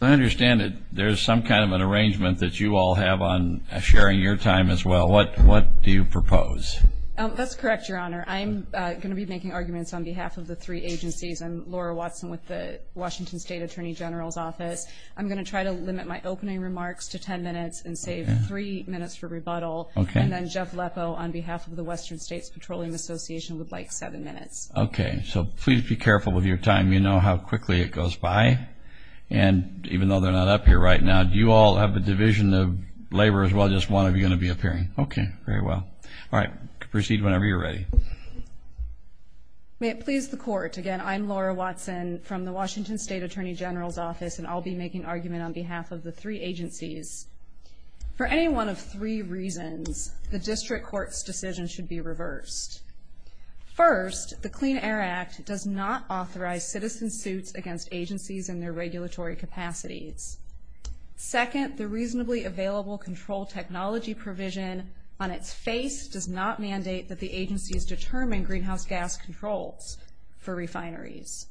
I understand that there's some kind of an arrangement that you all have on sharing your time as well. What what do you propose? That's correct, Your Honor. I'm going to be making arguments on behalf of the three agencies. I'm Laura Watson with the Washington State Attorney General's Office. I'm going to try to limit my opening remarks to ten minutes and save three minutes for rebuttal. Okay. And then Jeff Leppo on behalf of the Western States Petroleum Association would like seven minutes. Okay, so please be careful with your time. You know how quickly it goes by. And even though they're not up here right now, do you all have a division of labor as well? Just one of you going to be appearing? Okay, very well. All right, proceed whenever you're ready. May it please the Court. Again, I'm Laura Watson from the Washington State Attorney General's Office and I'll be making argument on behalf of the three agencies. For any one of three reasons, the District Court's decision should be agencies and their regulatory capacities. Second, the reasonably available control technology provision on its face does not mandate that the agencies determine greenhouse gas controls for refineries.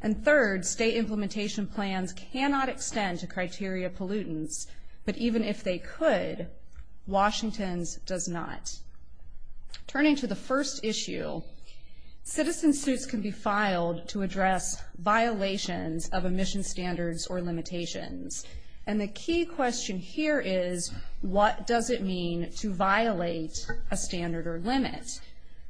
And third, state implementation plans cannot extend to criteria pollutants, but even if they could, Washington's does not. Turning to the first issue, citizen suits can be used to address violations of emission standards or limitations. And the key question here is, what does it mean to violate a standard or limit?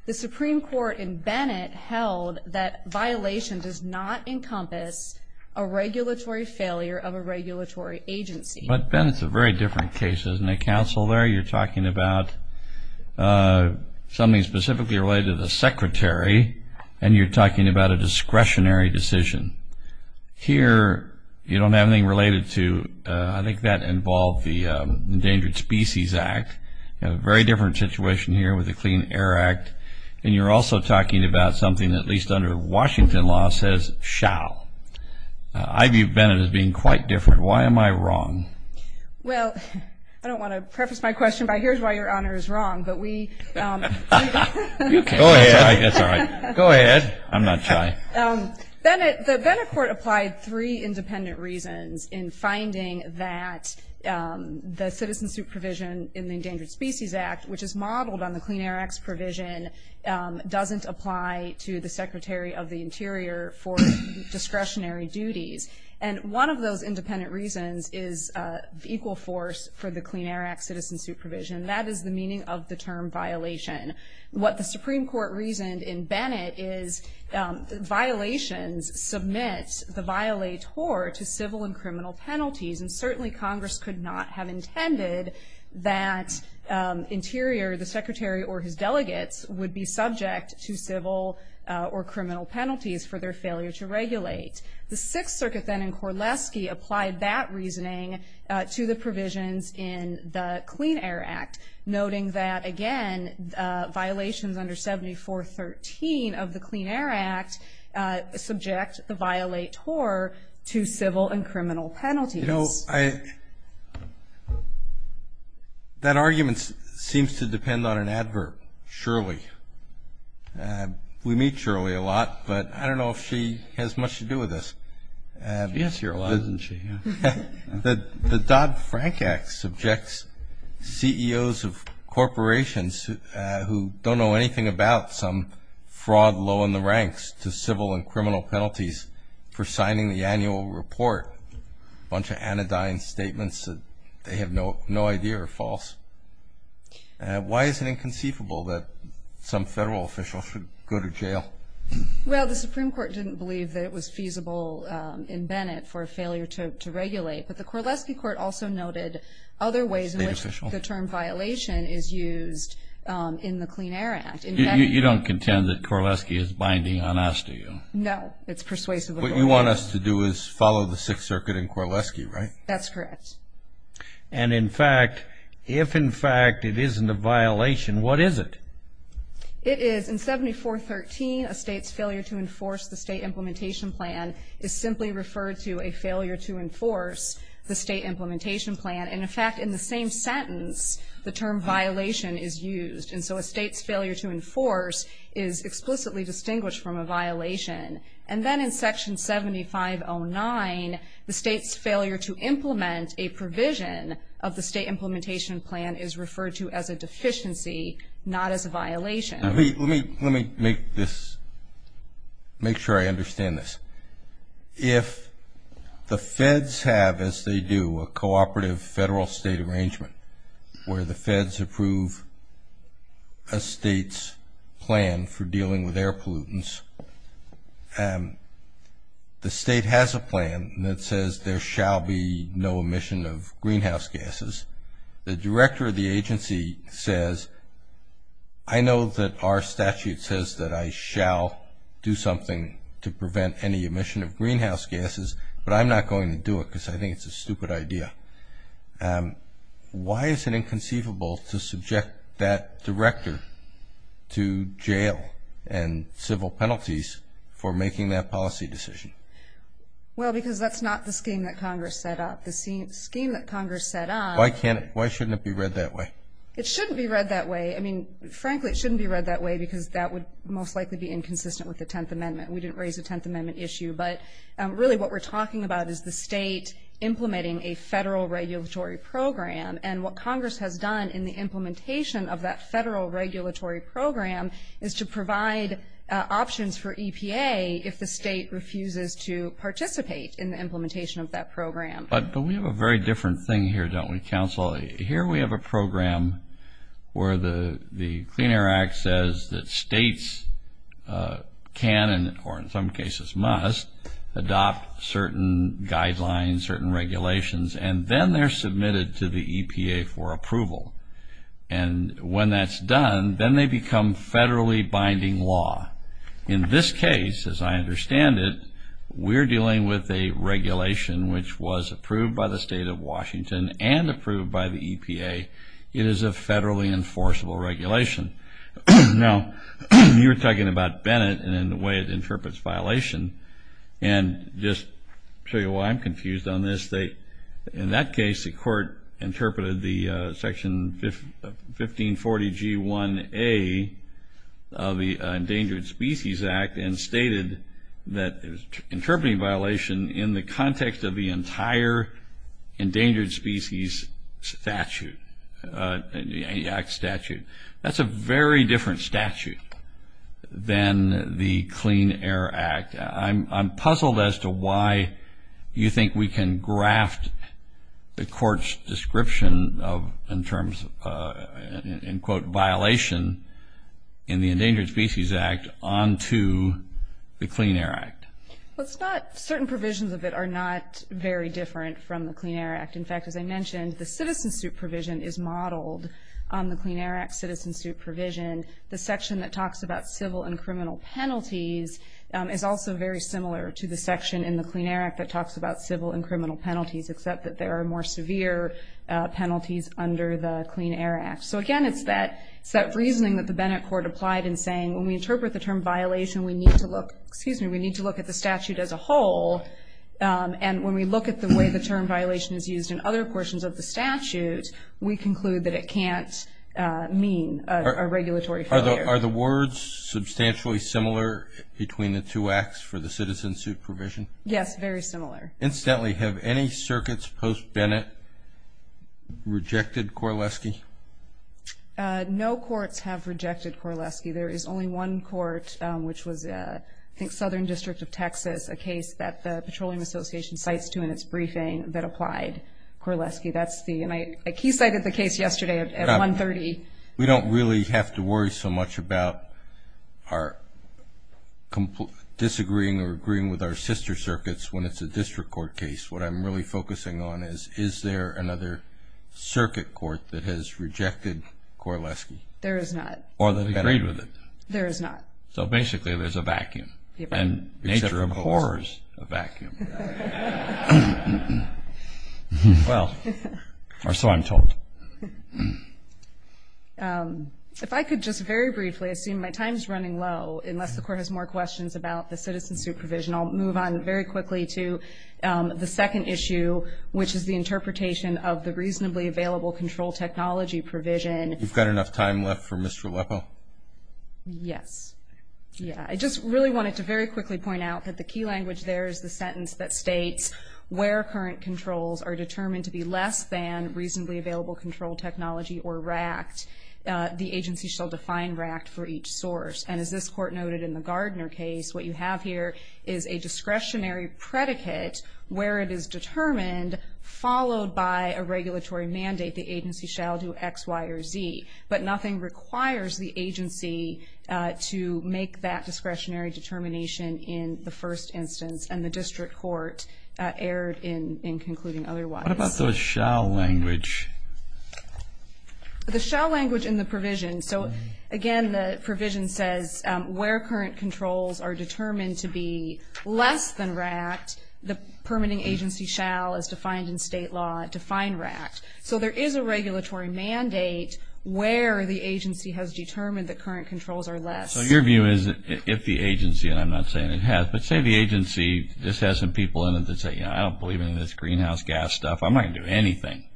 The Supreme Court in Bennett held that violation does not encompass a regulatory failure of a regulatory agency. But Ben, it's a very different case, isn't it, Counselor? You're talking about something specifically related to the Secretary and you're talking about a discretionary decision. Here, you don't have anything related to, I think that involved the Endangered Species Act. You have a very different situation here with the Clean Air Act. And you're also talking about something that at least under Washington law says, shall. I view Bennett as being quite different. Why am I wrong? Well, I don't want to preface my question by here's why your Honor is wrong, but we. Go ahead. I'm not shy. Bennett, the Bennett Court applied three independent reasons in finding that the citizen suit provision in the Endangered Species Act, which is modeled on the Clean Air Act's provision, doesn't apply to the Secretary of the Interior for discretionary duties. And one of those independent reasons is the equal force for the Clean Air Act. And that is the meaning of the term violation. What the Supreme Court reasoned in Bennett is violations submit the violator to civil and criminal penalties. And certainly Congress could not have intended that Interior, the Secretary or his delegates, would be subject to civil or criminal penalties for their failure to regulate. The Sixth Circuit then in Korleski applied that noting that, again, violations under 7413 of the Clean Air Act subject the violator to civil and criminal penalties. You know, that argument seems to depend on an advert, Shirley. We meet Shirley a lot, but I don't know if she has much to say on that. I mean, there are those of corporations who don't know anything about some fraud low in the ranks to civil and criminal penalties for signing the annual report, a bunch of anodyne statements that they have no idea are false. Why is it inconceivable that some federal official should go to jail? Well, the Supreme Court didn't believe that it was feasible in Bennett for a failure to regulate. But the Korleski Court also noted other ways in which the term violation is used in the Clean Air Act. You don't contend that Korleski is binding on us, do you? No, it's persuasive. What you want us to do is follow the Sixth Circuit and Korleski, right? That's correct. And, in fact, if in fact it isn't a violation, what is it? It is in 7413, a state's failure to enforce the state implementation plan is simply referred to a failure to enforce the state implementation plan. And, in fact, in the same sentence, the term violation is used. And so a state's failure to enforce is explicitly distinguished from a violation. And then in Section 7509, the state's failure to implement a provision of the state implementation plan is referred to as a deficiency, not as a violation. Let me make this, make sure I understand this. If the feds have, as they do, a cooperative federal-state arrangement where the feds approve a state's plan for dealing with air pollutants, the state has a plan that says there shall be no emission of greenhouse gases. The director of the agency says, I know that our statute says that I shall do something to prevent any pollution. I think it's a stupid idea. Why is it inconceivable to subject that director to jail and civil penalties for making that policy decision? Well, because that's not the scheme that Congress set up. The scheme that Congress set up... Why shouldn't it be read that way? It shouldn't be read that way. I mean, frankly, it shouldn't be read that way because that would most likely be inconsistent with the Tenth Amendment. We didn't raise a Tenth a federal regulatory program, and what Congress has done in the implementation of that federal regulatory program is to provide options for EPA if the state refuses to participate in the implementation of that program. But we have a very different thing here, don't we, counsel? Here we have a program where the Clean Air Act says that states can and, or in some cases must, adopt certain guidelines, certain regulations, and then they're submitted to the EPA for approval. And when that's done, then they become federally binding law. In this case, as I understand it, we're dealing with a regulation which was approved by the state of Washington and approved by the EPA. It is a federally enforceable regulation. Now, you were talking about Bennett and the way it was, I'll tell you why I'm confused on this. In that case, the court interpreted the Section 1540G1A of the Endangered Species Act and stated that it was interpreting violation in the context of the entire Endangered Species Act statute. That's a very different statute than the Clean Air Act. I'm puzzled as to why you think we can graft the court's description of, in terms of, in quote, violation in the Endangered Species Act onto the Clean Air Act. Well, it's not, certain provisions of it are not very different from the Clean Air Act. In fact, as I mentioned, the Citizen Suit Provision is modeled on the Clean Air Act Citizen Suit Provision. The section that talks about civil and criminal penalties, except that there are more severe penalties under the Clean Air Act. So again, it's that reasoning that the Bennett court applied in saying, when we interpret the term violation, we need to look, excuse me, we need to look at the statute as a whole. And when we look at the way the term violation is used in other portions of the statute, we conclude that it can't mean a regulatory failure. Are the words substantially similar between the two acts for the Citizen Suit Provision? Yes, very similar. Incidentally, have any circuits post-Bennett rejected Korleski? No courts have rejected Korleski. There is only one court, which was, I think, Southern District of Texas, a case that the Petroleum Association cites to in its briefing that applied Korleski. That's the, and I, like he cited the case yesterday at 1.30. We don't really have to worry so much about our disagreeing or agreeing with our sister circuits when it's a district court case. What I'm really focusing on is, is there another circuit court that has rejected Korleski? There is not. Or that agreed with it. There is not. So basically, there's a vacuum. And the nature of the court is a vacuum. Well, or so I'm told. If I could just very briefly assume my time is running low, unless the court has more questions about the Citizen Suit Provision, I'll move on very quickly to the second issue, which is the interpretation of the Reasonably Available Control Technology Provision. You've got enough time left for Mr. Leppo? Yes. Yeah, I just really wanted to very quickly point out that the key language there is the sentence that states, where current controls are determined to be less than reasonably available control technology or RACT, the agency shall define RACT for each source. And as this court noted in the Gardner case, what you have here is a discretionary predicate where it is determined, followed by a regulatory mandate, the agency shall do X, Y, or Z. But nothing requires the agency to make that discretionary determination in the first instance, and the district court erred in concluding otherwise. What about the shall language? The shall language in the provision. So again, the provision says, where current controls are determined to be less than RACT, the permitting agency shall, as defined in state law, define RACT. So there is a regulatory mandate where the agency has determined that current controls are less. So your view is that if the agency, and I'm not saying it has, but say the agency just has some people in it that say, you know, I don't believe in this greenhouse gas stuff. I'm not going to do anything.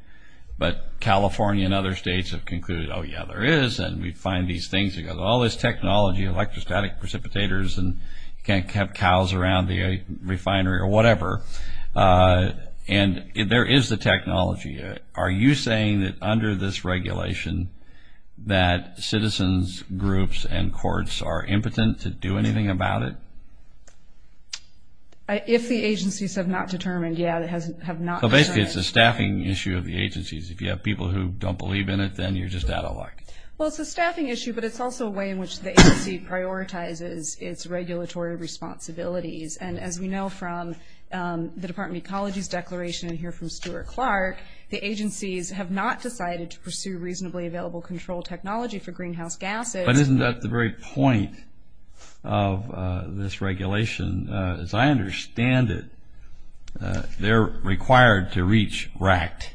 But California and other states have concluded, oh, yeah, there is. And we find these things that go, all this technology, electrostatic precipitators, and you can't have cows around the refinery or whatever. And there is the technology. Are you saying that under this regulation that citizens, groups, and courts are impotent to do anything about it? If the agencies have not determined, yeah, they have not determined. So basically, it's a staffing issue of the agencies. If you have people who don't believe in it, then you're just out of luck. Well, it's a staffing issue, but it's also a way in which the agency prioritizes its regulatory responsibilities. And as we know from the Department of Ecology's declaration, and hear from Stuart Clark, the agencies have not decided to pursue reasonably available control technology for greenhouse gases. But isn't that the very point of this regulation? As I understand it, they're required to reach RACT.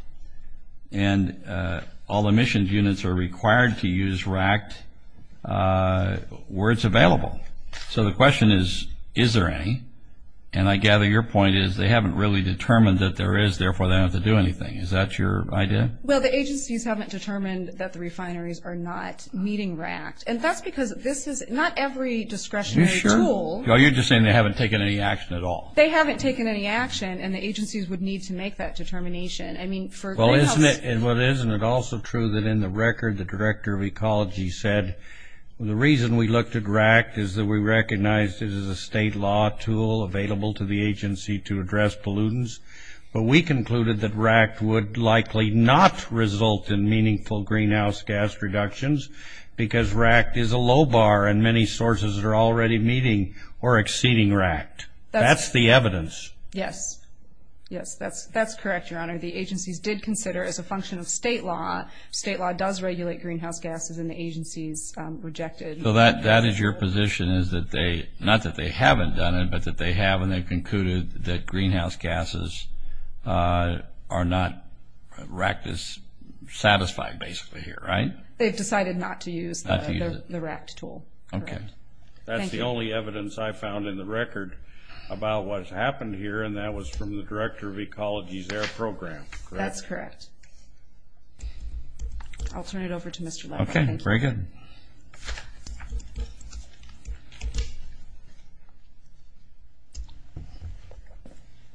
And all emissions units are required to use RACT where it's available. So the question is, is there any? And I gather your point is they haven't really determined that there is, therefore, they don't have to do anything. Is that your idea? Well, the agencies haven't determined that the refineries are not meeting RACT. And that's because this is not every discretionary tool. You're just saying they haven't taken any action at all. They haven't taken any action, and the agencies would need to make that determination. I mean, for greenhouse... Well, isn't it also true that in the record, the Director of Ecology said, the reason we looked at RACT is that we recognized it as a state law tool available to the agency to address pollutants. But we concluded that RACT would likely not result in meaningful greenhouse gas reductions because RACT is a low bar, and many sources are already meeting or exceeding RACT. That's the evidence. Yes. Yes, that's correct, Your Honor. The agencies did consider, as a function of state law, state law does regulate greenhouse gases, and the agencies rejected... So that is your position, is that they... Not that they haven't done it, but that they have, and they've concluded that greenhouse gases are not... RACT is satisfied, basically, here, right? They've decided not to use the RACT tool. Okay. That's the only evidence I found in the record about what's happened here, and that was from the Director of Ecology's AIR program, correct? That's correct. I'll turn it over to Mr. Levin. Okay, very good.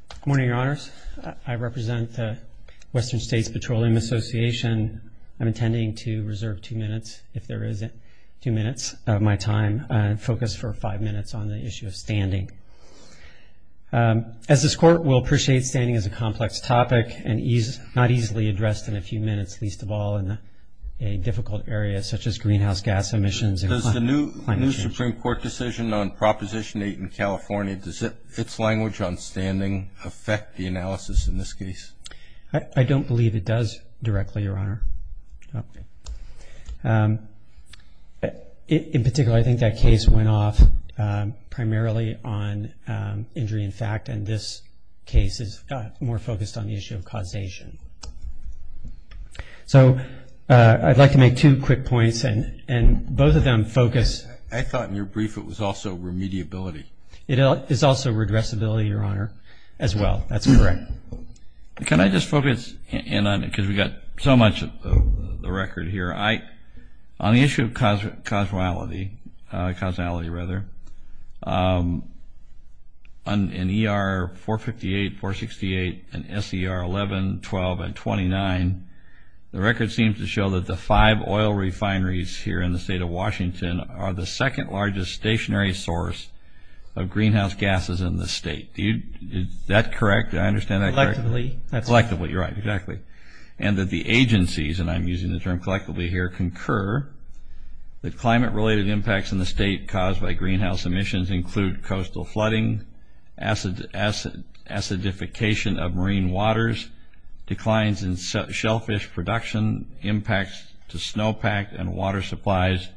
Good morning, Your Honors. I represent the Western States Petroleum Association. I'm intending to reserve two minutes, if there isn't two minutes of my time, and focus for five minutes on the issue of standing. As this Court will appreciate, standing is a complex topic, and not easily addressed in a few minutes, least of all in a difficult area such as greenhouse gas emissions and climate change. Does the new Supreme Court decision on Proposition 8 in California, does its language on standing affect the analysis in this case? I don't believe it does directly, Your Honor. In particular, I think that case went off primarily on injury in fact, and this case is more focused on the issue of causation. So, I'd like to make two quick points, and both of them focus... I thought in your brief it was also remediability. It is also redressability, Your Honor, as well. That's correct. Can I just focus in on it, because we've got so much of the record here. On the issue of causality, in ER 458, 468, and SER 11, 12, and 29, the record seems to show that the five oil refineries here in the state of Washington are the second largest stationary source of greenhouse gases in the state. Is that correct? Do I understand that correctly? Collectively, you're right, exactly. And that the agencies, and I'm using the term collectively here, concur that climate-related impacts in the state caused by greenhouse emissions include coastal flooding, acidification of marine waters, declines in shellfish production, impacts to snowpack and water supplies,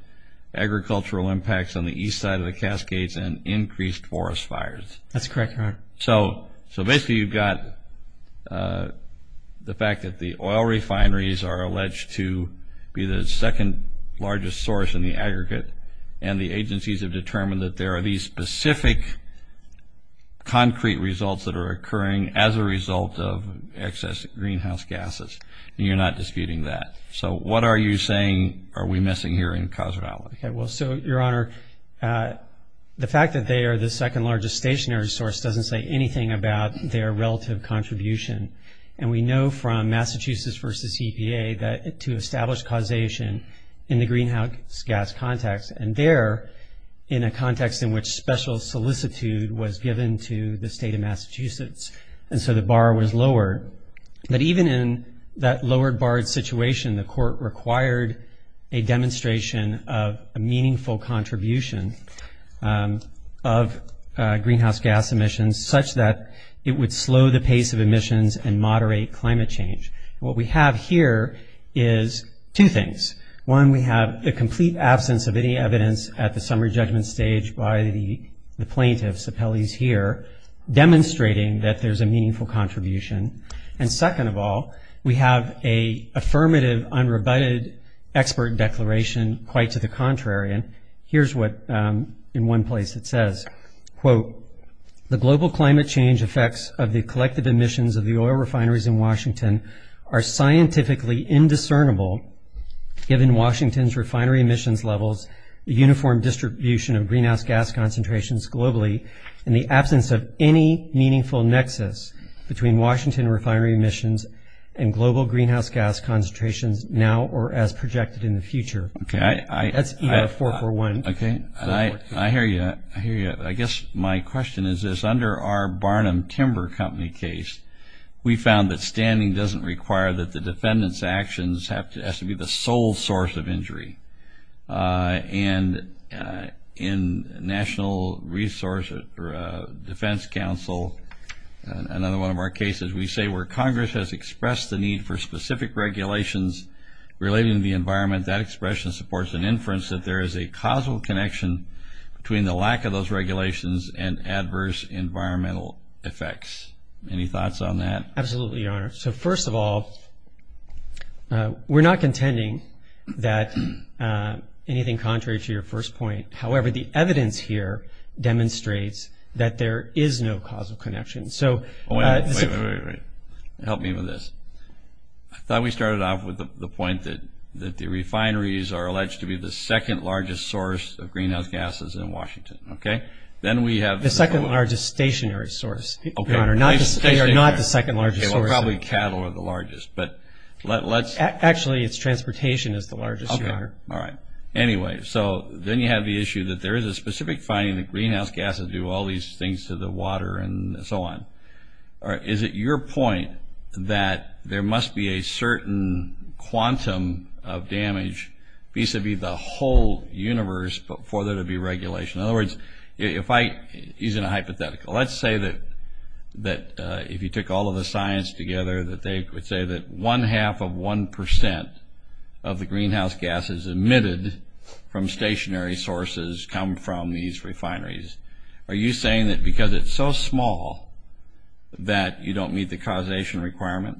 agricultural impacts on the east side of the Cascades, and increased forest fires. That's correct, Your Honor. So, basically, you've got the fact that the oil refineries are alleged to be the second largest source in the aggregate, and the agencies have determined that there are these specific concrete results that are occurring as a result of excess greenhouse gases, and you're not disputing that. So, what are you saying are we missing here in causality? Okay, well, so, Your Honor, the fact that they are the second largest stationary source doesn't say anything about their relative contribution. And we know from Massachusetts versus EPA that to establish causation in the greenhouse gas context, and there, in a context in which special solicitude was given to the state of Massachusetts, and so the bar was lowered. But even in that lowered barred situation, the court required a demonstration of a meaningful contribution of greenhouse gas emissions such that it would slow the pace of emissions and moderate climate change. What we have here is two things. One, we have the complete absence of any evidence at the summary judgment stage by the plaintiffs, the Pelley's here, demonstrating that there's a meaningful contribution. And second of all, we have a affirmative unrebutted expert declaration quite to the contrary, and here's what in one place it says, quote, the global climate change effects of the collective emissions of the oil refineries in Washington are scientifically indiscernible given Washington's refinery emissions levels, the uniform distribution of greenhouse gas concentrations globally, in the absence of any meaningful nexus between Washington refinery emissions and global greenhouse gas concentrations now or as projected in the future. That's ER441. Okay, I hear you, I hear you. I guess my question is this, under our Barnum Timber Company case, we found that standing doesn't require that the defendant's actions have to be the sole source of injury. And in National Resource Defense Council, another one of our cases, we say where Congress has expressed the need for specific regulations relating to the environment, that expression supports an inference that there is a causal connection between the lack of those regulations and adverse environmental effects. Any thoughts on that? Absolutely, Your Honor. So first of all, we're not contending that anything contrary to your first point. However, the evidence here demonstrates that there is no causal connection. So... Wait, wait, wait, help me with this. I thought we started off with the point that the refineries are alleged to be the second largest source of greenhouse gases in Washington, okay? Then we have... The second largest stationary source, Your Honor, not the second largest source. Probably cattle are the largest, but let's... Actually, it's transportation is the largest, Your Honor. All right. Anyway, so then you have the issue that there is a specific finding that greenhouse gases do all these things to the water and so on. All right, is it your point that there must be a certain quantum of damage vis-a-vis the whole universe for there to be regulation? In other words, if I... Using a hypothetical, let's say that if you took all of the science together that they would say that one half of one percent of the greenhouse gases emitted from stationary sources come from these refineries. Are you saying that because it's so small that you don't meet the causation requirement?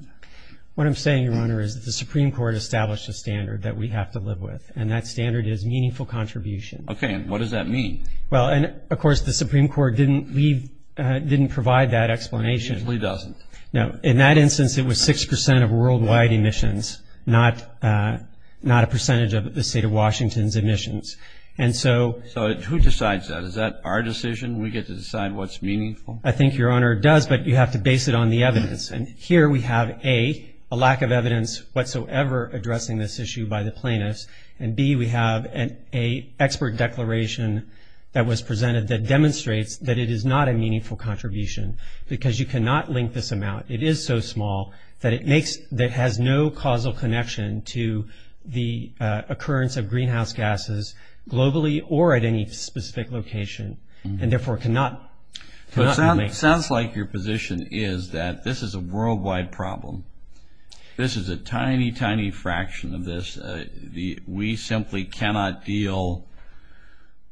What I'm saying, Your Honor, is that the Supreme Court established a standard that we have to live with, and that standard is meaningful contribution. Okay, and what does that mean? Well, and of course, the Supreme Court didn't leave... Didn't provide that explanation. It simply doesn't. No, in that instance, it was six percent of worldwide emissions, not a percentage of the state of Washington's emissions. And so... So who decides that? Is that our decision? We get to decide what's meaningful? I think, Your Honor, it does, but you have to base it on the evidence. And here we have, A, a lack of evidence whatsoever addressing this issue by the plaintiffs, and B, we have an expert declaration that was presented that demonstrates that it is not a meaningful contribution, because you cannot link this amount. It is so small that it makes... That has no causal connection to the occurrence of greenhouse gases globally or at any specific location, and therefore cannot... So it sounds like your position is that this is a worldwide problem. This is a tiny, tiny fraction of this. We simply cannot deal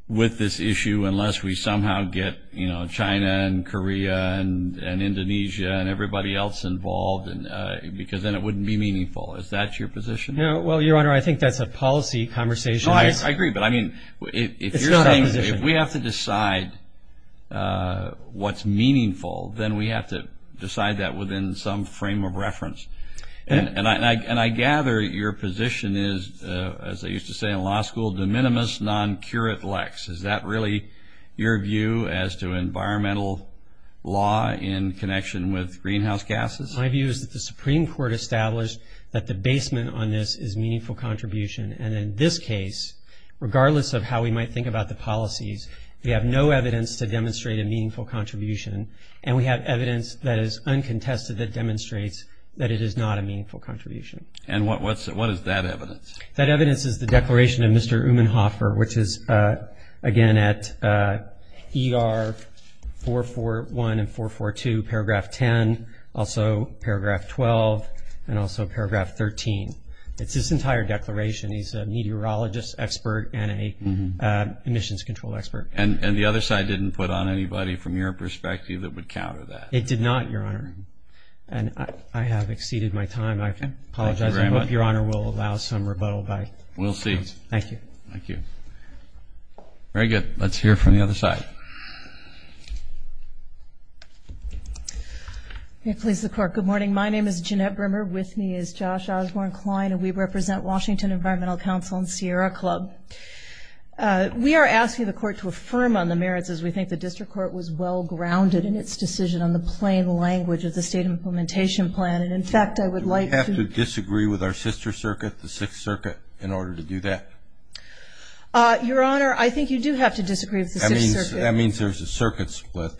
with this issue unless we somehow get, you know, China and Korea and Indonesia and everybody else involved, because then it wouldn't be meaningful. Is that your position? No. Well, Your Honor, I think that's a policy conversation. No, I agree, but I mean, if you're saying... It's not our position. ...if we have to decide what's meaningful, then we have to decide that within some frame of reference. And I gather your position is, as I used to say in law school, de minimis non curat lex. Is that really your view as to environmental law in connection with greenhouse gases? My view is that the Supreme Court established that the basement on this is meaningful contribution, and in this case, regardless of how we might think about the policies, we have no evidence to demonstrate a meaningful contribution, and we have evidence that is uncontested that demonstrates that it is not a meaningful contribution. And what is that evidence? That evidence is the declaration of Mr. Umenhofer, which is, again, at ER 441 and 442, paragraph 10, also paragraph 12, and also paragraph 13. It's his entire declaration. He's a meteorologist expert and a emissions control expert. And the other side didn't put on anybody from your perspective that would counter that? It did not, Your Honor. And I have exceeded my time. I apologize. I hope Your Honor will allow some rebuttal. We'll see. Thank you. Thank you. Very good. Let's hear from the other side. Please, the court. Good morning. My name is Jeanette Brimmer. With me is Josh Osborne-Klein, and we represent Washington Environmental Council and Sierra Club. We are asking the court to affirm on the merits as we think the district court was well-grounded in its decision on the plain language of the state implementation plan. And in fact, I would like to disagree with our sister circuit, the Sixth Circuit, in order to do that. Your Honor, I think you do have to disagree with the Sixth Circuit. That means there's a circuit split.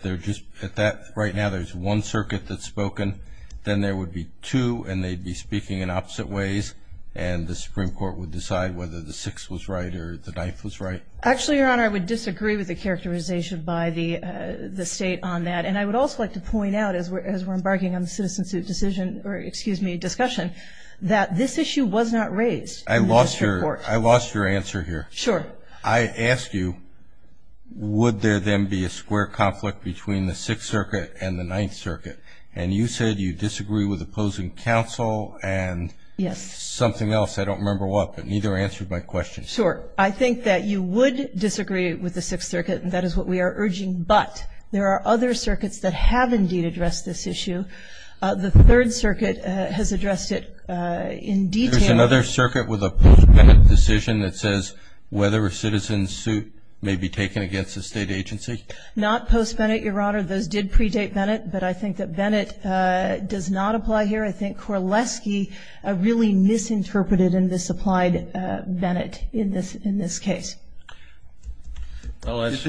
Right now, there's one circuit that's spoken. Then there would be two, and they'd be speaking in opposite ways. And the Supreme Court would decide whether the Sixth was right or the Ninth was right. Actually, Your Honor, I would disagree with the characterization by the state on that. And I would also like to point out, as we're embarking on the citizenship decision, or excuse me, discussion, that this issue was not raised in the district court. I lost your answer here. Sure. I asked you, would there then be a square conflict between the Sixth Circuit and the Ninth Circuit? And you said you disagree with opposing counsel and something else. I don't remember what, but neither answered my question. Sure. I think that you would disagree with the Sixth Circuit, and that is what we are urging. But there are other circuits that have, indeed, addressed this issue. The Third Circuit has addressed it in detail. There's another circuit with a post-Bennett decision that says whether a citizen's suit may be taken against a state agency? Not post-Bennett, Your Honor. Those did predate Bennett. But I think that Bennett does not apply here. I think Korleski really misinterpreted and misapplied Bennett in this case. Is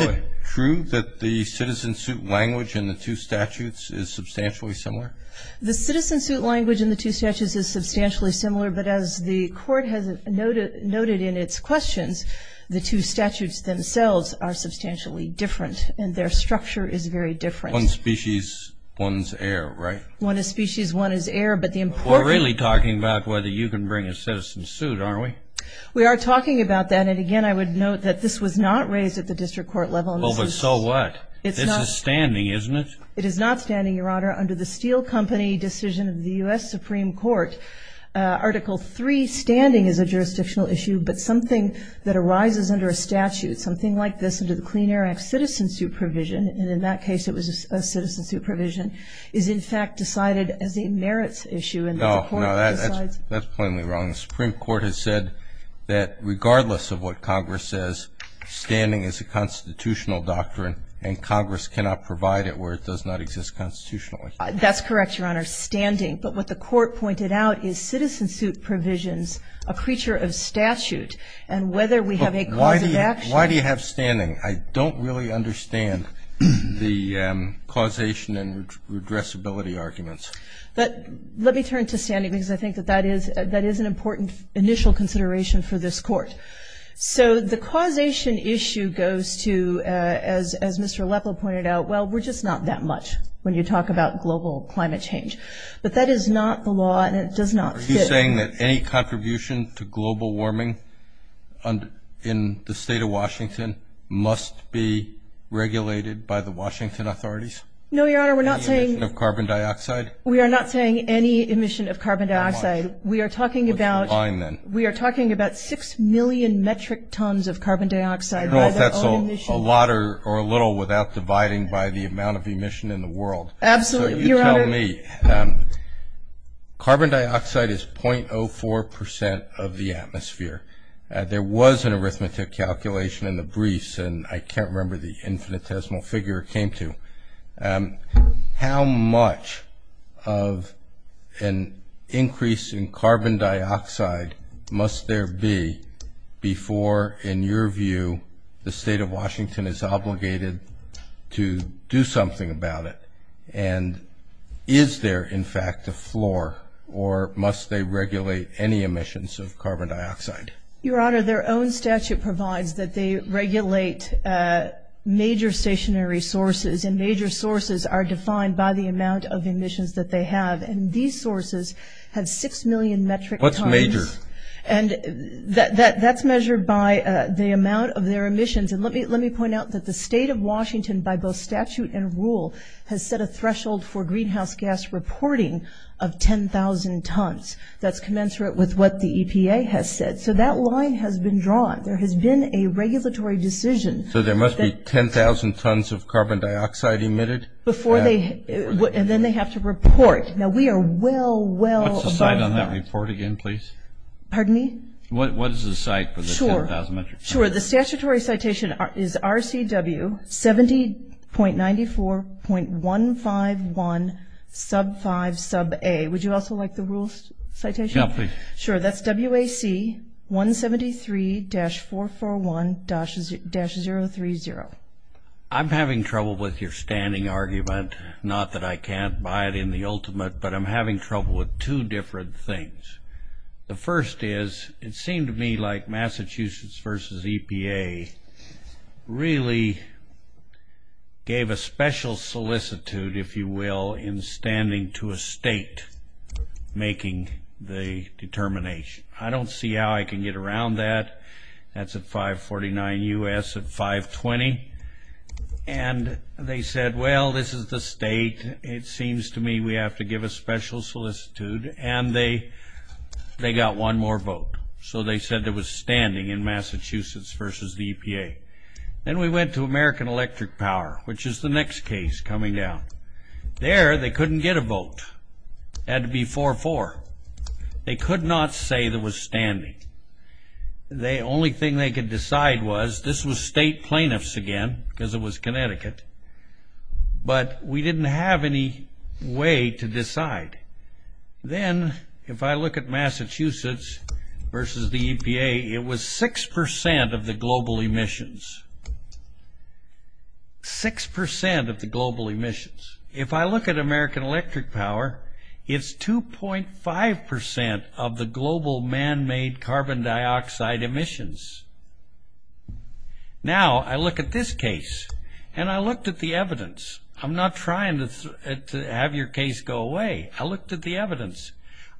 it true that the citizen suit language in the two statutes is substantially similar? The citizen suit language in the two statutes is substantially similar. But as the court has noted in its questions, the two statutes themselves are substantially different. And their structure is very different. One species, one's heir, right? One is species, one is heir. But the important- We're really talking about whether you can bring a citizen suit, aren't we? We are talking about that. And again, I would note that this was not raised at the district court level. Well, but so what? It's a standing, isn't it? It is not standing, Your Honor. Under the Steele Company decision of the US Supreme Court, Article III standing is a jurisdictional issue. But something that arises under a statute, something like this, under the Clean Air Act citizen suit provision, and in that case it was a citizen suit provision, is in fact decided as a merits issue. And the court decides- That's plainly wrong. The Supreme Court has said that regardless of what Congress says, standing is a constitutional doctrine. And Congress cannot provide it where it does not exist constitutionally. That's correct, Your Honor, standing. But what the court pointed out is citizen suit provisions, a creature of statute. And whether we have a cause of action- Why do you have standing? I don't really understand the causation and redressability arguments. But let me turn to standing because I think that is an important initial consideration for this court. So the causation issue goes to, as Mr. Aleppo pointed out, well, we're just not that much when you talk about global climate change. But that is not the law and it does not fit- Are you saying that any contribution to global warming in the state of Washington must be regulated by the Washington authorities? No, Your Honor, we're not saying- Emission of carbon dioxide? We are not saying any emission of carbon dioxide. We are talking about- What's the line then? We are talking about 6 million metric tons of carbon dioxide by their own emission. A lot or a little without dividing by the amount of emission in the world. Absolutely, Your Honor. So you tell me, carbon dioxide is 0.04% of the atmosphere. There was an arithmetic calculation in the briefs and I can't remember the infinitesimal figure it came to. How much of an increase in carbon dioxide must there be before, in your view, the state of Washington is obligated to do something about it? And is there, in fact, a floor or must they regulate any emissions of carbon dioxide? Your Honor, their own statute provides that they regulate major stationary sources and major sources are defined by the amount of emissions that they have. And these sources have 6 million metric tons. What's major? And that's measured by the amount of their emissions. And let me point out that the state of Washington, by both statute and rule, has set a threshold for greenhouse gas reporting of 10,000 tons. That's commensurate with what the EPA has said. So that line has been drawn. There has been a regulatory decision. So there must be 10,000 tons of carbon dioxide emitted? Before they, and then they have to report. Now we are well, well above that. What's the site on that report again, please? Pardon me? What is the site for the 10,000 metric tons? Sure, the statutory citation is RCW 70.94.151 sub 5 sub a. Would you also like the rules citation? Yeah, please. Sure, that's WAC 173-441-030. I'm having trouble with your standing argument. Not that I can't buy it in the ultimate, but I'm having trouble with two different things. The first is, it seemed to me like Massachusetts versus EPA really gave a special solicitude, if you will, in standing to a state making the determination. I don't see how I can get around that. That's at 549 US at 520. And they said, well, this is the state. It seems to me we have to give a special solicitude. And they got one more vote. So they said there was standing in Massachusetts versus the EPA. Then we went to American Electric Power, which is the next case coming down. There, they couldn't get a vote. It had to be 4-4. They could not say there was standing. The only thing they could decide was, this was state plaintiffs again, because it was Connecticut. But we didn't have any way to decide. Then, if I look at Massachusetts versus the EPA, it was 6% of the global emissions. 6% of the global emissions. If I look at American Electric Power, it's 2.5% of the global man-made carbon dioxide emissions. Now, I look at this case, and I looked at the evidence. I'm not trying to have your case go away. I looked at the evidence.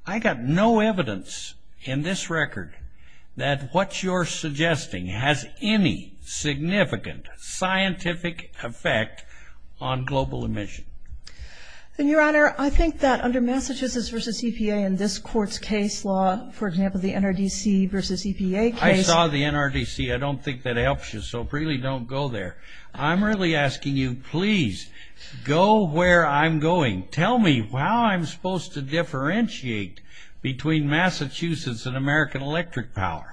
I got no evidence in this record that what you're suggesting has any significant scientific effect on global emission. And your honor, I think that under Massachusetts versus EPA, in this court's case law, for example, the NRDC versus EPA case. I saw the NRDC. I don't think that helps you, so really don't go there. I'm really asking you, please, go where I'm going. Tell me how I'm supposed to differentiate between Massachusetts and American Electric Power.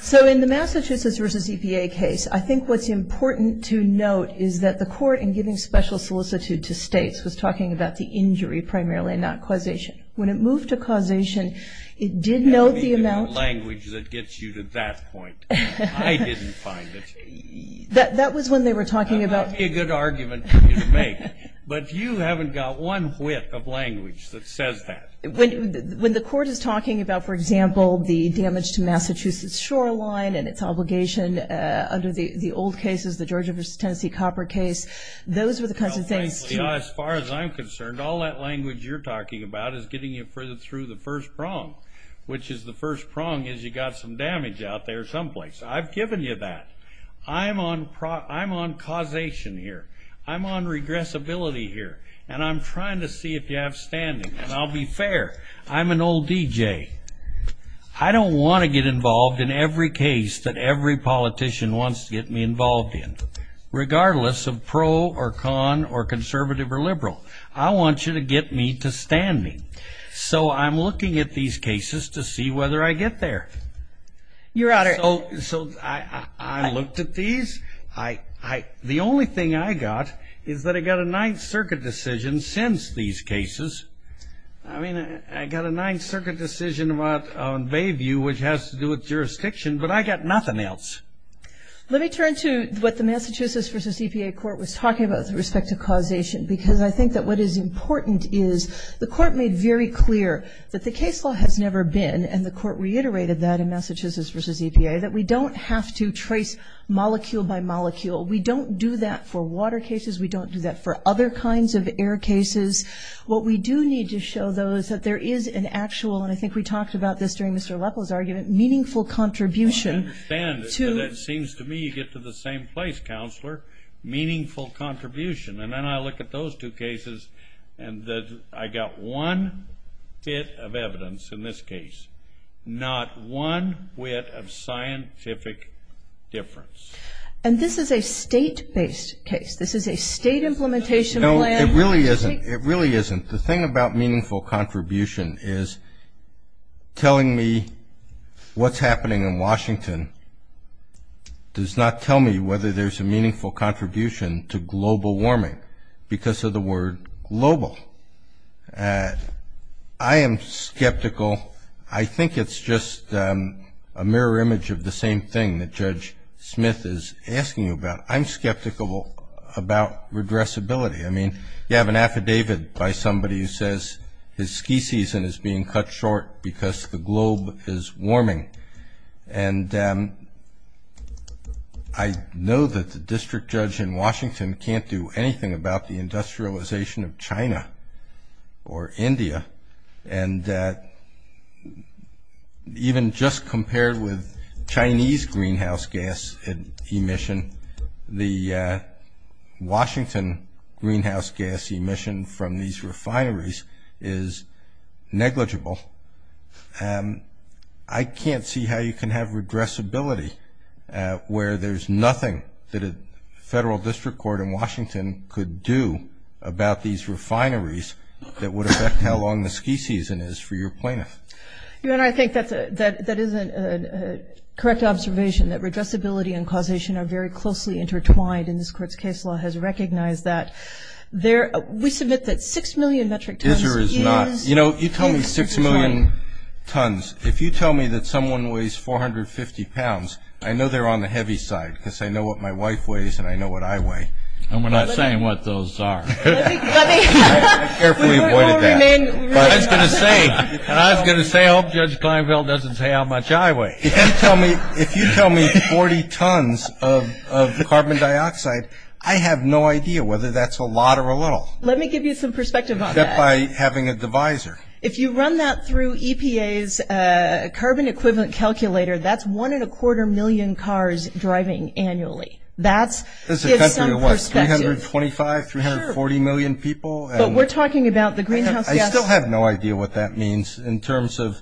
So in the Massachusetts versus EPA case, I think what's important to note is that the court, in giving special solicitude to states, was talking about the injury primarily, not causation. When it moved to causation, it did note the amount. Language that gets you to that point. I didn't find it. That was when they were talking about. That might be a good argument for you to make. But you haven't got one whit of language that says that. When the court is talking about, for example, the damage to Massachusetts shoreline and its obligation under the old cases, the Georgia versus Tennessee copper case, those were the kinds of things. As far as I'm concerned, all that language you're talking about is getting you further through the first prong, which is the first prong is you got some damage out there someplace. I've given you that. I'm on causation here. I'm on regressibility here. And I'm trying to see if you have standing. And I'll be fair. I'm an old DJ. I don't want to get involved in every case that every politician wants to get me involved in, regardless of pro or con or conservative or liberal. I want you to get me to standing. So I'm looking at these cases to see whether I get there. Your Honor. So I looked at these. The only thing I got is that I got a Ninth Circuit decision since these cases. I mean, I got a Ninth Circuit decision about Bayview, which has to do with jurisdiction. But I got nothing else. Let me turn to what the Massachusetts versus EPA court was talking about with respect to causation. Because I think that what is important is the court made very clear that the case law has never been, and the court reiterated that in Massachusetts versus EPA, that we don't have to trace molecule by molecule. We don't do that for water cases. We don't do that for other kinds of air cases. What we do need to show, though, is that there is an actual, and I think we talked about this during Mr. Leppol's argument, meaningful contribution to- I understand, but it seems to me you get to the same place, Counselor. Meaningful contribution. And then I look at those two cases, and I got one bit of evidence in this case, not one whit of scientific difference. And this is a state-based case. This is a state implementation plan. No, it really isn't. It really isn't. The thing about meaningful contribution is telling me what's happening in Washington does not tell me whether there's a meaningful contribution to global warming because of the word global. I am skeptical. I think it's just a mirror image of the same thing that Judge Smith is asking about. I'm skeptical about redressability. I mean, you have an affidavit by somebody who says his ski season is being cut short because the globe is warming. And I know that the district judge in Washington can't do anything about the industrialization of China or India. And even just compared with Chinese greenhouse gas emission, the Washington greenhouse gas emission from these refineries is negligible. I can't see how you can have redressability where there's nothing that a federal district court in Washington could do about these refineries that would affect how long the ski season is for your plaintiff. Your Honor, I think that is a correct observation, that redressability and causation are very closely intertwined. And this court's case law has recognized that. We submit that 6 million metric tons is closely intertwined. You know, you tell me 6 million tons. If you tell me that someone weighs 450 pounds, I know they're on the heavy side because I know what my wife weighs and I know what I weigh. And we're not saying what those are. I carefully avoided that. I was going to say, I was going to say, I hope Judge Kleinfeld doesn't say how much I weigh. If you tell me 40 tons of the carbon dioxide, I have no idea whether that's a lot or a little. Let me give you some perspective on that. Except by having a divisor. If you run that through EPA's carbon equivalent calculator, that's one and a quarter million cars driving annually. That's gives some perspective. 325, 340 million people. But we're talking about the greenhouse gas. I still have no idea what that means in terms of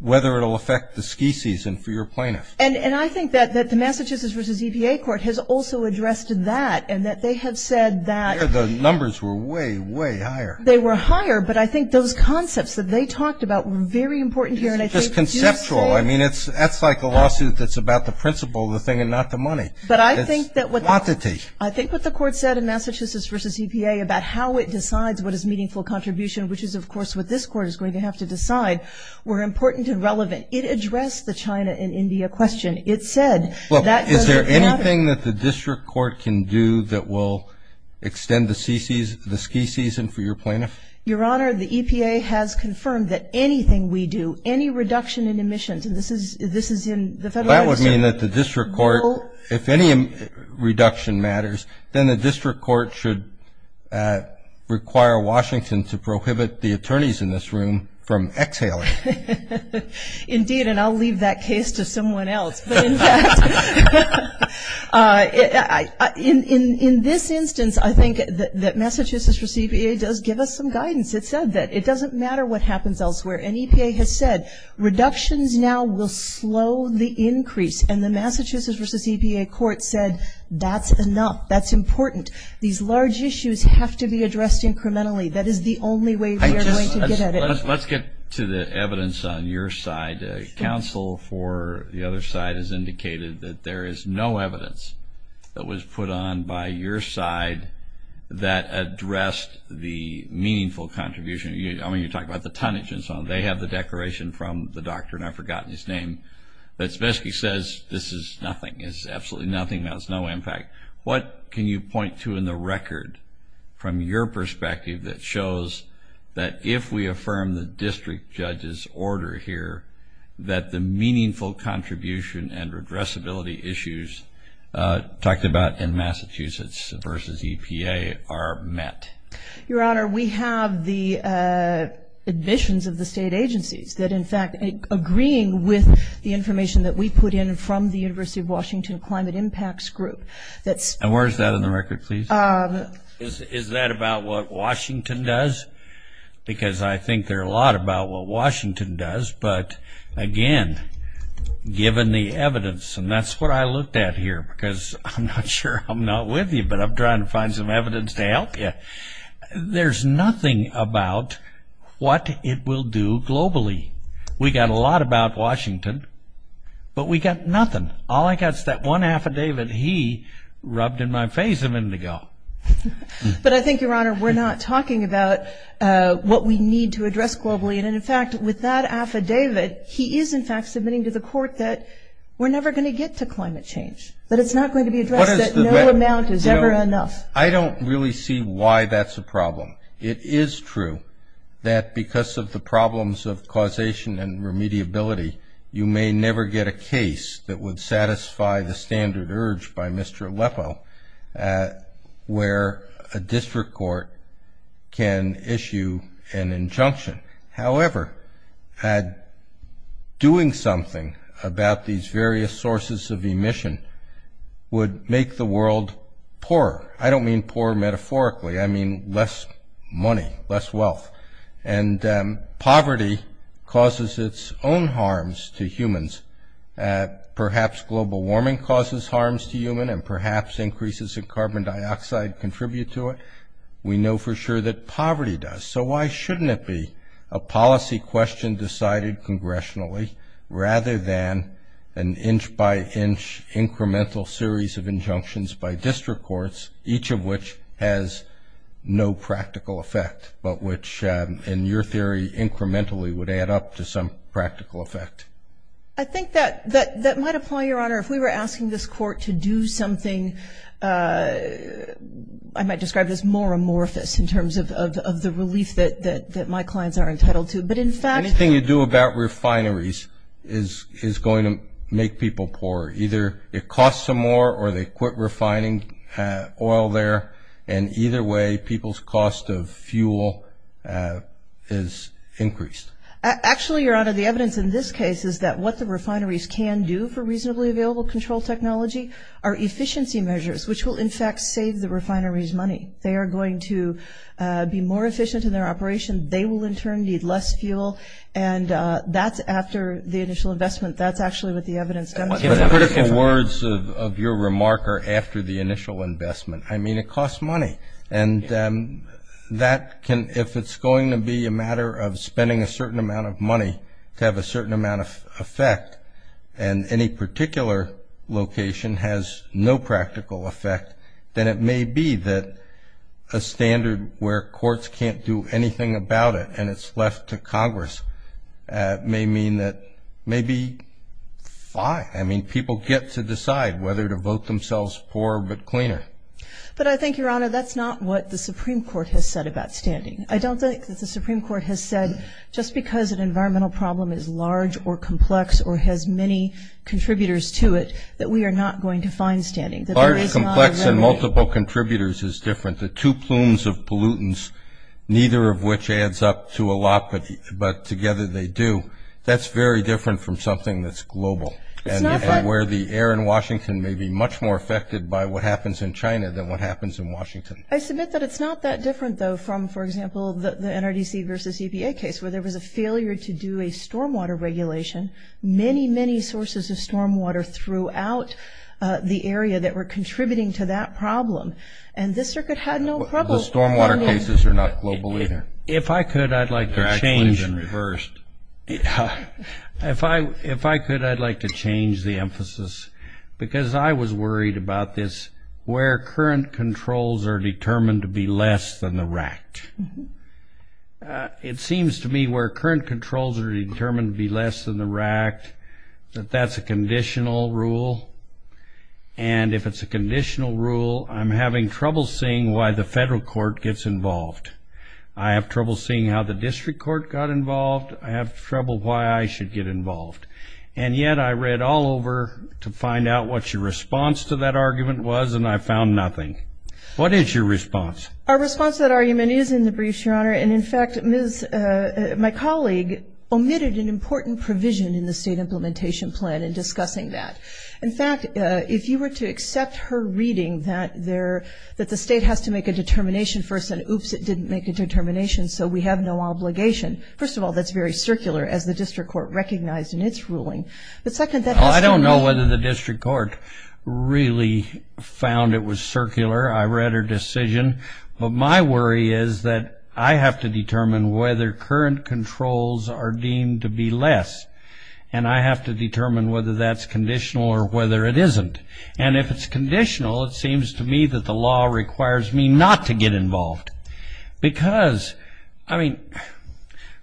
whether it will affect the ski season for your plaintiff. And I think that the Massachusetts versus EPA court has also addressed that and that they have said that. The numbers were way, way higher. They were higher, but I think those concepts that they talked about were very important here. It's just conceptual. I mean, that's like a lawsuit that's about the principle of the thing and not the money. But I think that with the quantity. The court said in Massachusetts versus EPA about how it decides what is meaningful contribution, which is, of course, what this court is going to have to decide, were important and relevant. It addressed the China and India question. It said that doesn't matter. Is there anything that the district court can do that will extend the ski season for your plaintiff? Your Honor, the EPA has confirmed that anything we do, any reduction in emissions, and this is in the Federal Register. That would mean that the district court, if any reduction matters, then the district court should require Washington to prohibit the attorneys in this room from exhaling. Indeed, and I'll leave that case to someone else. But in fact, in this instance, I think that Massachusetts versus EPA does give us some guidance. It said that it doesn't matter what happens elsewhere. And EPA has said reductions now will slow the increase. And the Massachusetts versus EPA court said, that's enough. That's important. These large issues have to be addressed incrementally. That is the only way we are going to get at it. Let's get to the evidence on your side. Counsel for the other side has indicated that there is no evidence that was put on by your side that addressed the meaningful contribution. I mean, you talk about the tonnage and so on. They have the declaration from the doctor, and I've forgotten his name, that basically says this is nothing. It's absolutely nothing. That has no impact. What can you point to in the record from your perspective that shows that if we affirm the district judge's order here, that the meaningful contribution and addressability issues talked about in Massachusetts versus EPA are met? Your Honor, we have the admissions of the state agencies that, in fact, agreeing with the information that we put in from the University of Washington Climate Impacts Group. And where is that in the record, please? Is that about what Washington does? Because I think there are a lot about what Washington does. But again, given the evidence, and that's what I looked at here, because I'm not sure I'm not with you, but I'm trying to find some evidence to help you. There's nothing about what it will do globally. We got a lot about Washington, but we got nothing. All I got is that one affidavit he rubbed in my face of indigo. But I think, Your Honor, we're not talking about what we need to address globally. And in fact, with that affidavit, he is, in fact, submitting to the court that we're never going to get to climate change, that it's not going to be addressed, I don't really see why that's a problem. It is true that because of the problems of causation and remediability, you may never get a case that would satisfy the standard urge by Mr. Aleppo, where a district court can issue an injunction. However, doing something about these various sources of emission would make the world poorer. I don't mean poor metaphorically. I mean less money, less wealth. And poverty causes its own harms to humans. Perhaps global warming causes harms to human, and perhaps increases in carbon dioxide contribute to it. We know for sure that poverty does. So why shouldn't it be a policy question decided congressionally, rather than an inch by inch incremental series of injunctions by district courts, each of which has no practical effect, but which, in your theory, incrementally would add up to some practical effect? I think that might apply, Your Honor. If we were asking this court to do something, I might describe it as more amorphous in terms of the relief that my clients are entitled to. But in fact, Anything you do about refineries is going to make people poorer. Either it costs them more, or they quit refining oil there. And either way, people's cost of fuel is increased. Actually, Your Honor, the evidence in this case is that what the refineries can do for reasonably available control technology are efficiency measures, which will, in fact, save the refineries money. They are going to be more efficient in their operation. They will, in turn, need less fuel. And that's after the initial investment. That's actually what the evidence demonstrates. But the critical words of your remark are after the initial investment. I mean, it costs money. And if it's going to be a matter of spending a certain amount of money to have a certain amount of effect, and any particular location has no practical effect, then it may be that a standard where courts can't do anything about it, and it's left to Congress, may mean that maybe fine. I mean, people get to decide whether to vote themselves poorer but cleaner. But I think, Your Honor, that's not what the Supreme Court has said about standing. I don't think that the Supreme Court has said, just because an environmental problem is large or complex or has many contributors to it, that we are not going to find standing. Large, complex, and multiple contributors is different. The two plumes of pollutants, neither of which adds up to a lot, but together they do. That's very different from something that's global, where the air in Washington may be much more affected by what happens in China than what happens in Washington. I submit that it's not that different, though, from, for example, the NRDC versus EPA case, where there was a failure to do a stormwater regulation. Many, many sources of stormwater throughout the area that were contributing to that problem. And this circuit had no problem. The stormwater cases are not global either. If I could, I'd like to change. It's actually been reversed. If I could, I'd like to change the emphasis, because I was worried about this, where current controls are determined to be less than the RACT. It seems to me where current controls are determined to be less than the RACT, that that's a conditional rule. And if it's a conditional rule, I'm having trouble seeing why the federal court gets involved. I have trouble seeing how the district court got involved. I have trouble why I should get involved. And yet, I read all over to find out what your response to that argument was, and I found nothing. What is your response? Our response to that argument is in the briefs, Your Honor. And in fact, my colleague omitted an important provision in the state implementation plan in discussing that. In fact, if you were to accept her reading that the state has to make a determination first, and oops, it didn't make a determination, so we have no obligation. First of all, that's very circular, as the district court recognized in its ruling. But second, that has to be made. Well, I don't know whether the district court really found it was circular. I read her decision. But my worry is that I have to determine whether current controls are deemed to be less. And I have to determine whether that's conditional or whether it isn't. And if it's conditional, it seems to me that the law requires me not to get involved. Because, I mean,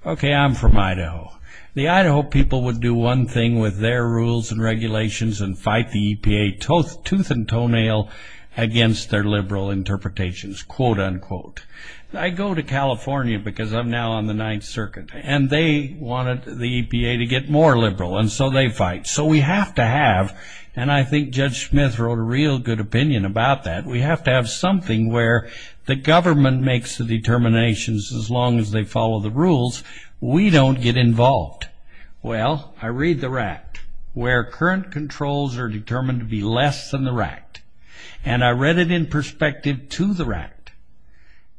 OK, I'm from Idaho. The Idaho people would do one thing with their rules and regulations and fight the EPA tooth and toenail against their liberal interpretations, quote unquote. I go to California, because I'm now on the Ninth Circuit. And they wanted the EPA to get more liberal, and so they fight. So we have to have, and I think Judge Smith wrote a real good opinion about that. We have to have something where the government makes the determinations as long as they follow the rules. We don't get involved. Well, I read the RACT, where current controls are determined to be less than the RACT. And I read it in perspective to the RACT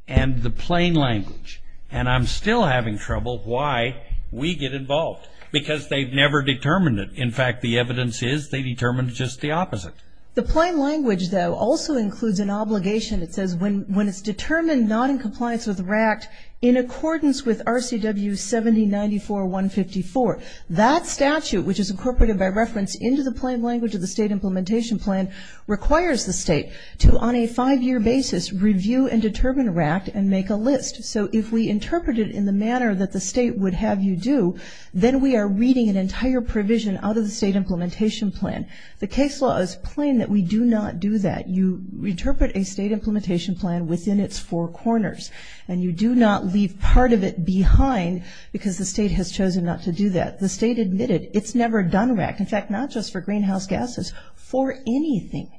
and the plain language. And I'm still having trouble why we get involved. Because they've never determined it. In fact, the evidence is they determined just the opposite. The plain language, though, also includes an obligation. It says when it's determined not in compliance with the RACT in accordance with RCW 7094-154, that statute, which is incorporated by reference into the plain language of the state implementation plan, requires the state to, on a five-year basis, review and determine RACT and make a list. So if we interpret it in the manner that the state would have you do, then we are reading an entire provision out of the state implementation plan. The case law is plain that we do not do that. You interpret a state implementation plan within its four corners. And you do not leave part of it behind, because the state has chosen not to do that. The state admitted it's never done RACT. In fact, not just for greenhouse gases, for anything.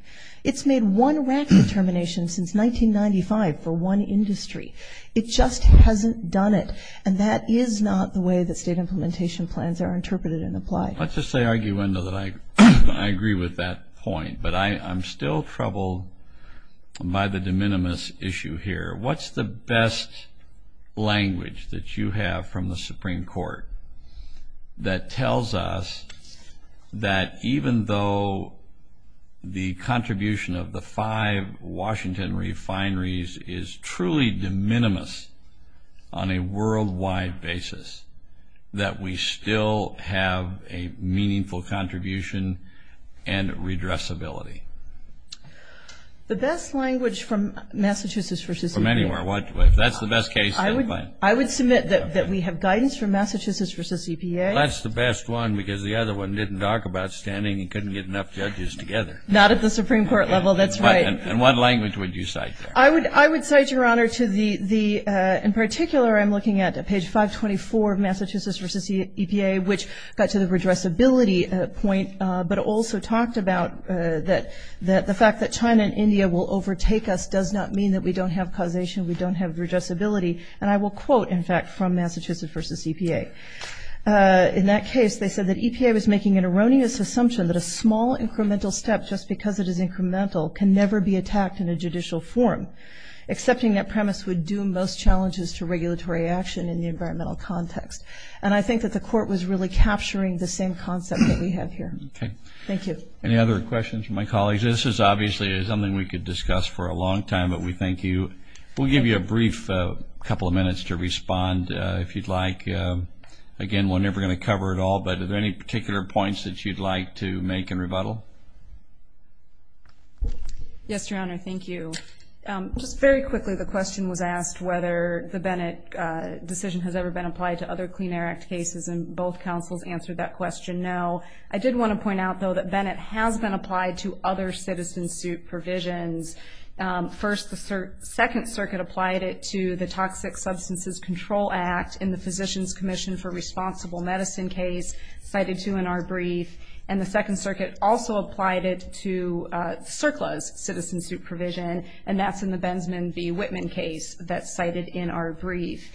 It's made one RACT determination since 1995 for one industry. It just hasn't done it. And that is not the way that state implementation plans are interpreted and applied. Let's just say, Arguendo, that I agree with that point. But I'm still troubled by the de minimis issue here. What's the best language that you have from the Supreme Court that tells us that even though the contribution of the five Washington refineries is truly de minimis on a worldwide basis, that we still have a meaningful contribution and redressability? The best language from Massachusetts v. EPA. From anywhere, if that's the best case. I would submit that we have guidance from Massachusetts v. EPA. That's the best one, because the other one didn't talk about standing and couldn't get enough judges together. Not at the Supreme Court level, that's right. And what language would you cite there? I would cite, Your Honor, to the, in particular, I'm looking at page 524 of Massachusetts v. EPA, which got to the redressability point, but also talked about the fact that China and India will overtake us does not mean that we don't have causation, we don't have redressability. And I will quote, in fact, from Massachusetts v. EPA. In that case, they said that EPA was making an erroneous assumption that a small incremental step, just because it is incremental, can never be attacked in a judicial forum. Accepting that premise would do most challenges to regulatory action in the environmental context. And I think that the court was really capturing the same concept that we have here. Thank you. Any other questions from my colleagues? This is obviously something we could discuss for a long time, but we thank you. We'll give you a brief couple of minutes to respond, if you'd like. Again, we're never going to cover it all, but are there any particular points that you'd like to make in rebuttal? Yes, Your Honor, thank you. Just very quickly, the question was whether the Bennett decision has ever been applied to other Clean Air Act cases, and both counsels answered that question no. I did want to point out, though, that Bennett has been applied to other citizen suit provisions. First, the Second Circuit applied it to the Toxic Substances Control Act in the Physician's Commission for Responsible Medicine case, cited too in our brief. And the Second Circuit also applied it to CERCLA's citizen suit provision, and that's in the Bensman v. Whitman case. That's cited in our brief.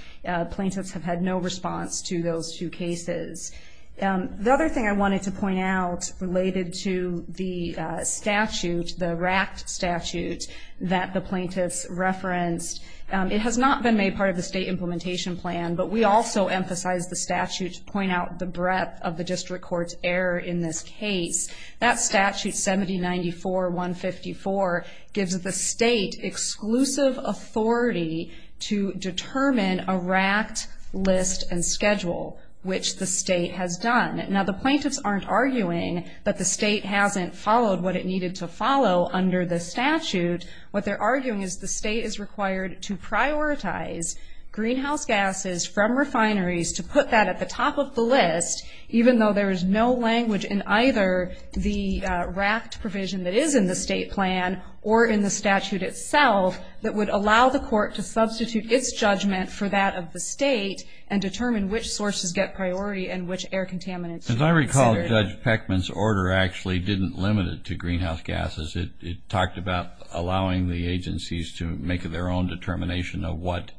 Plaintiffs have had no response to those two cases. The other thing I wanted to point out related to the statute, the RACT statute, that the plaintiffs referenced, it has not been made part of the state implementation plan, but we also emphasize the statute to point out the breadth of the district court's error in this case. That statute, 7094.154, gives the state exclusive authority to determine a RACT list and schedule, which the state has done. Now, the plaintiffs aren't arguing that the state hasn't followed what it needed to follow under the statute. What they're arguing is the state is required to prioritize greenhouse gases from refineries to put that at the top of the list, even though there is no language in either the RACT provision that is in the state plan or in the statute itself that would allow the court to substitute its judgment for that of the state and determine which sources get priority and which air contaminants should be considered. As I recall, Judge Peckman's order actually didn't limit it to greenhouse gases. It talked about allowing the agencies to make their own determination of what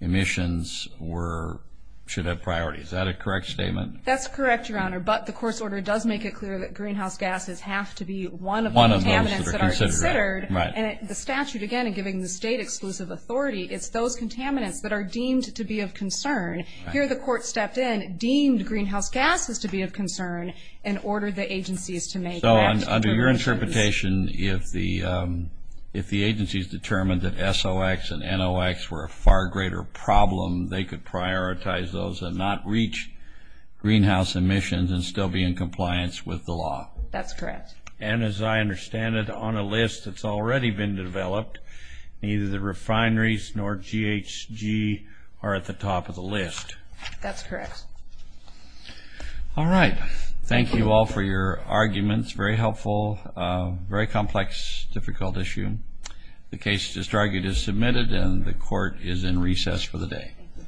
emissions were should have priority. Is that a correct statement? That's correct, Your Honor, but the court's order does make it clear that greenhouse gases have to be one of the contaminants that are considered. And the statute, again, in giving the state exclusive authority, it's those contaminants that are deemed to be of concern. Here, the court stepped in, deemed greenhouse gases to be of concern, and ordered the agencies to make RACT determinations. So under your interpretation, if the agencies determined that SOX and NOX were a far greater problem, they could prioritize those and not reach greenhouse emissions and still be in compliance with the law. That's correct. And as I understand it, on a list that's already been developed, neither the refineries nor GHG are at the top of the list. That's correct. All right. Thank you all for your arguments. Very helpful. Very complex, difficult issue. The case to start is submitted, and the court is in recess for the day.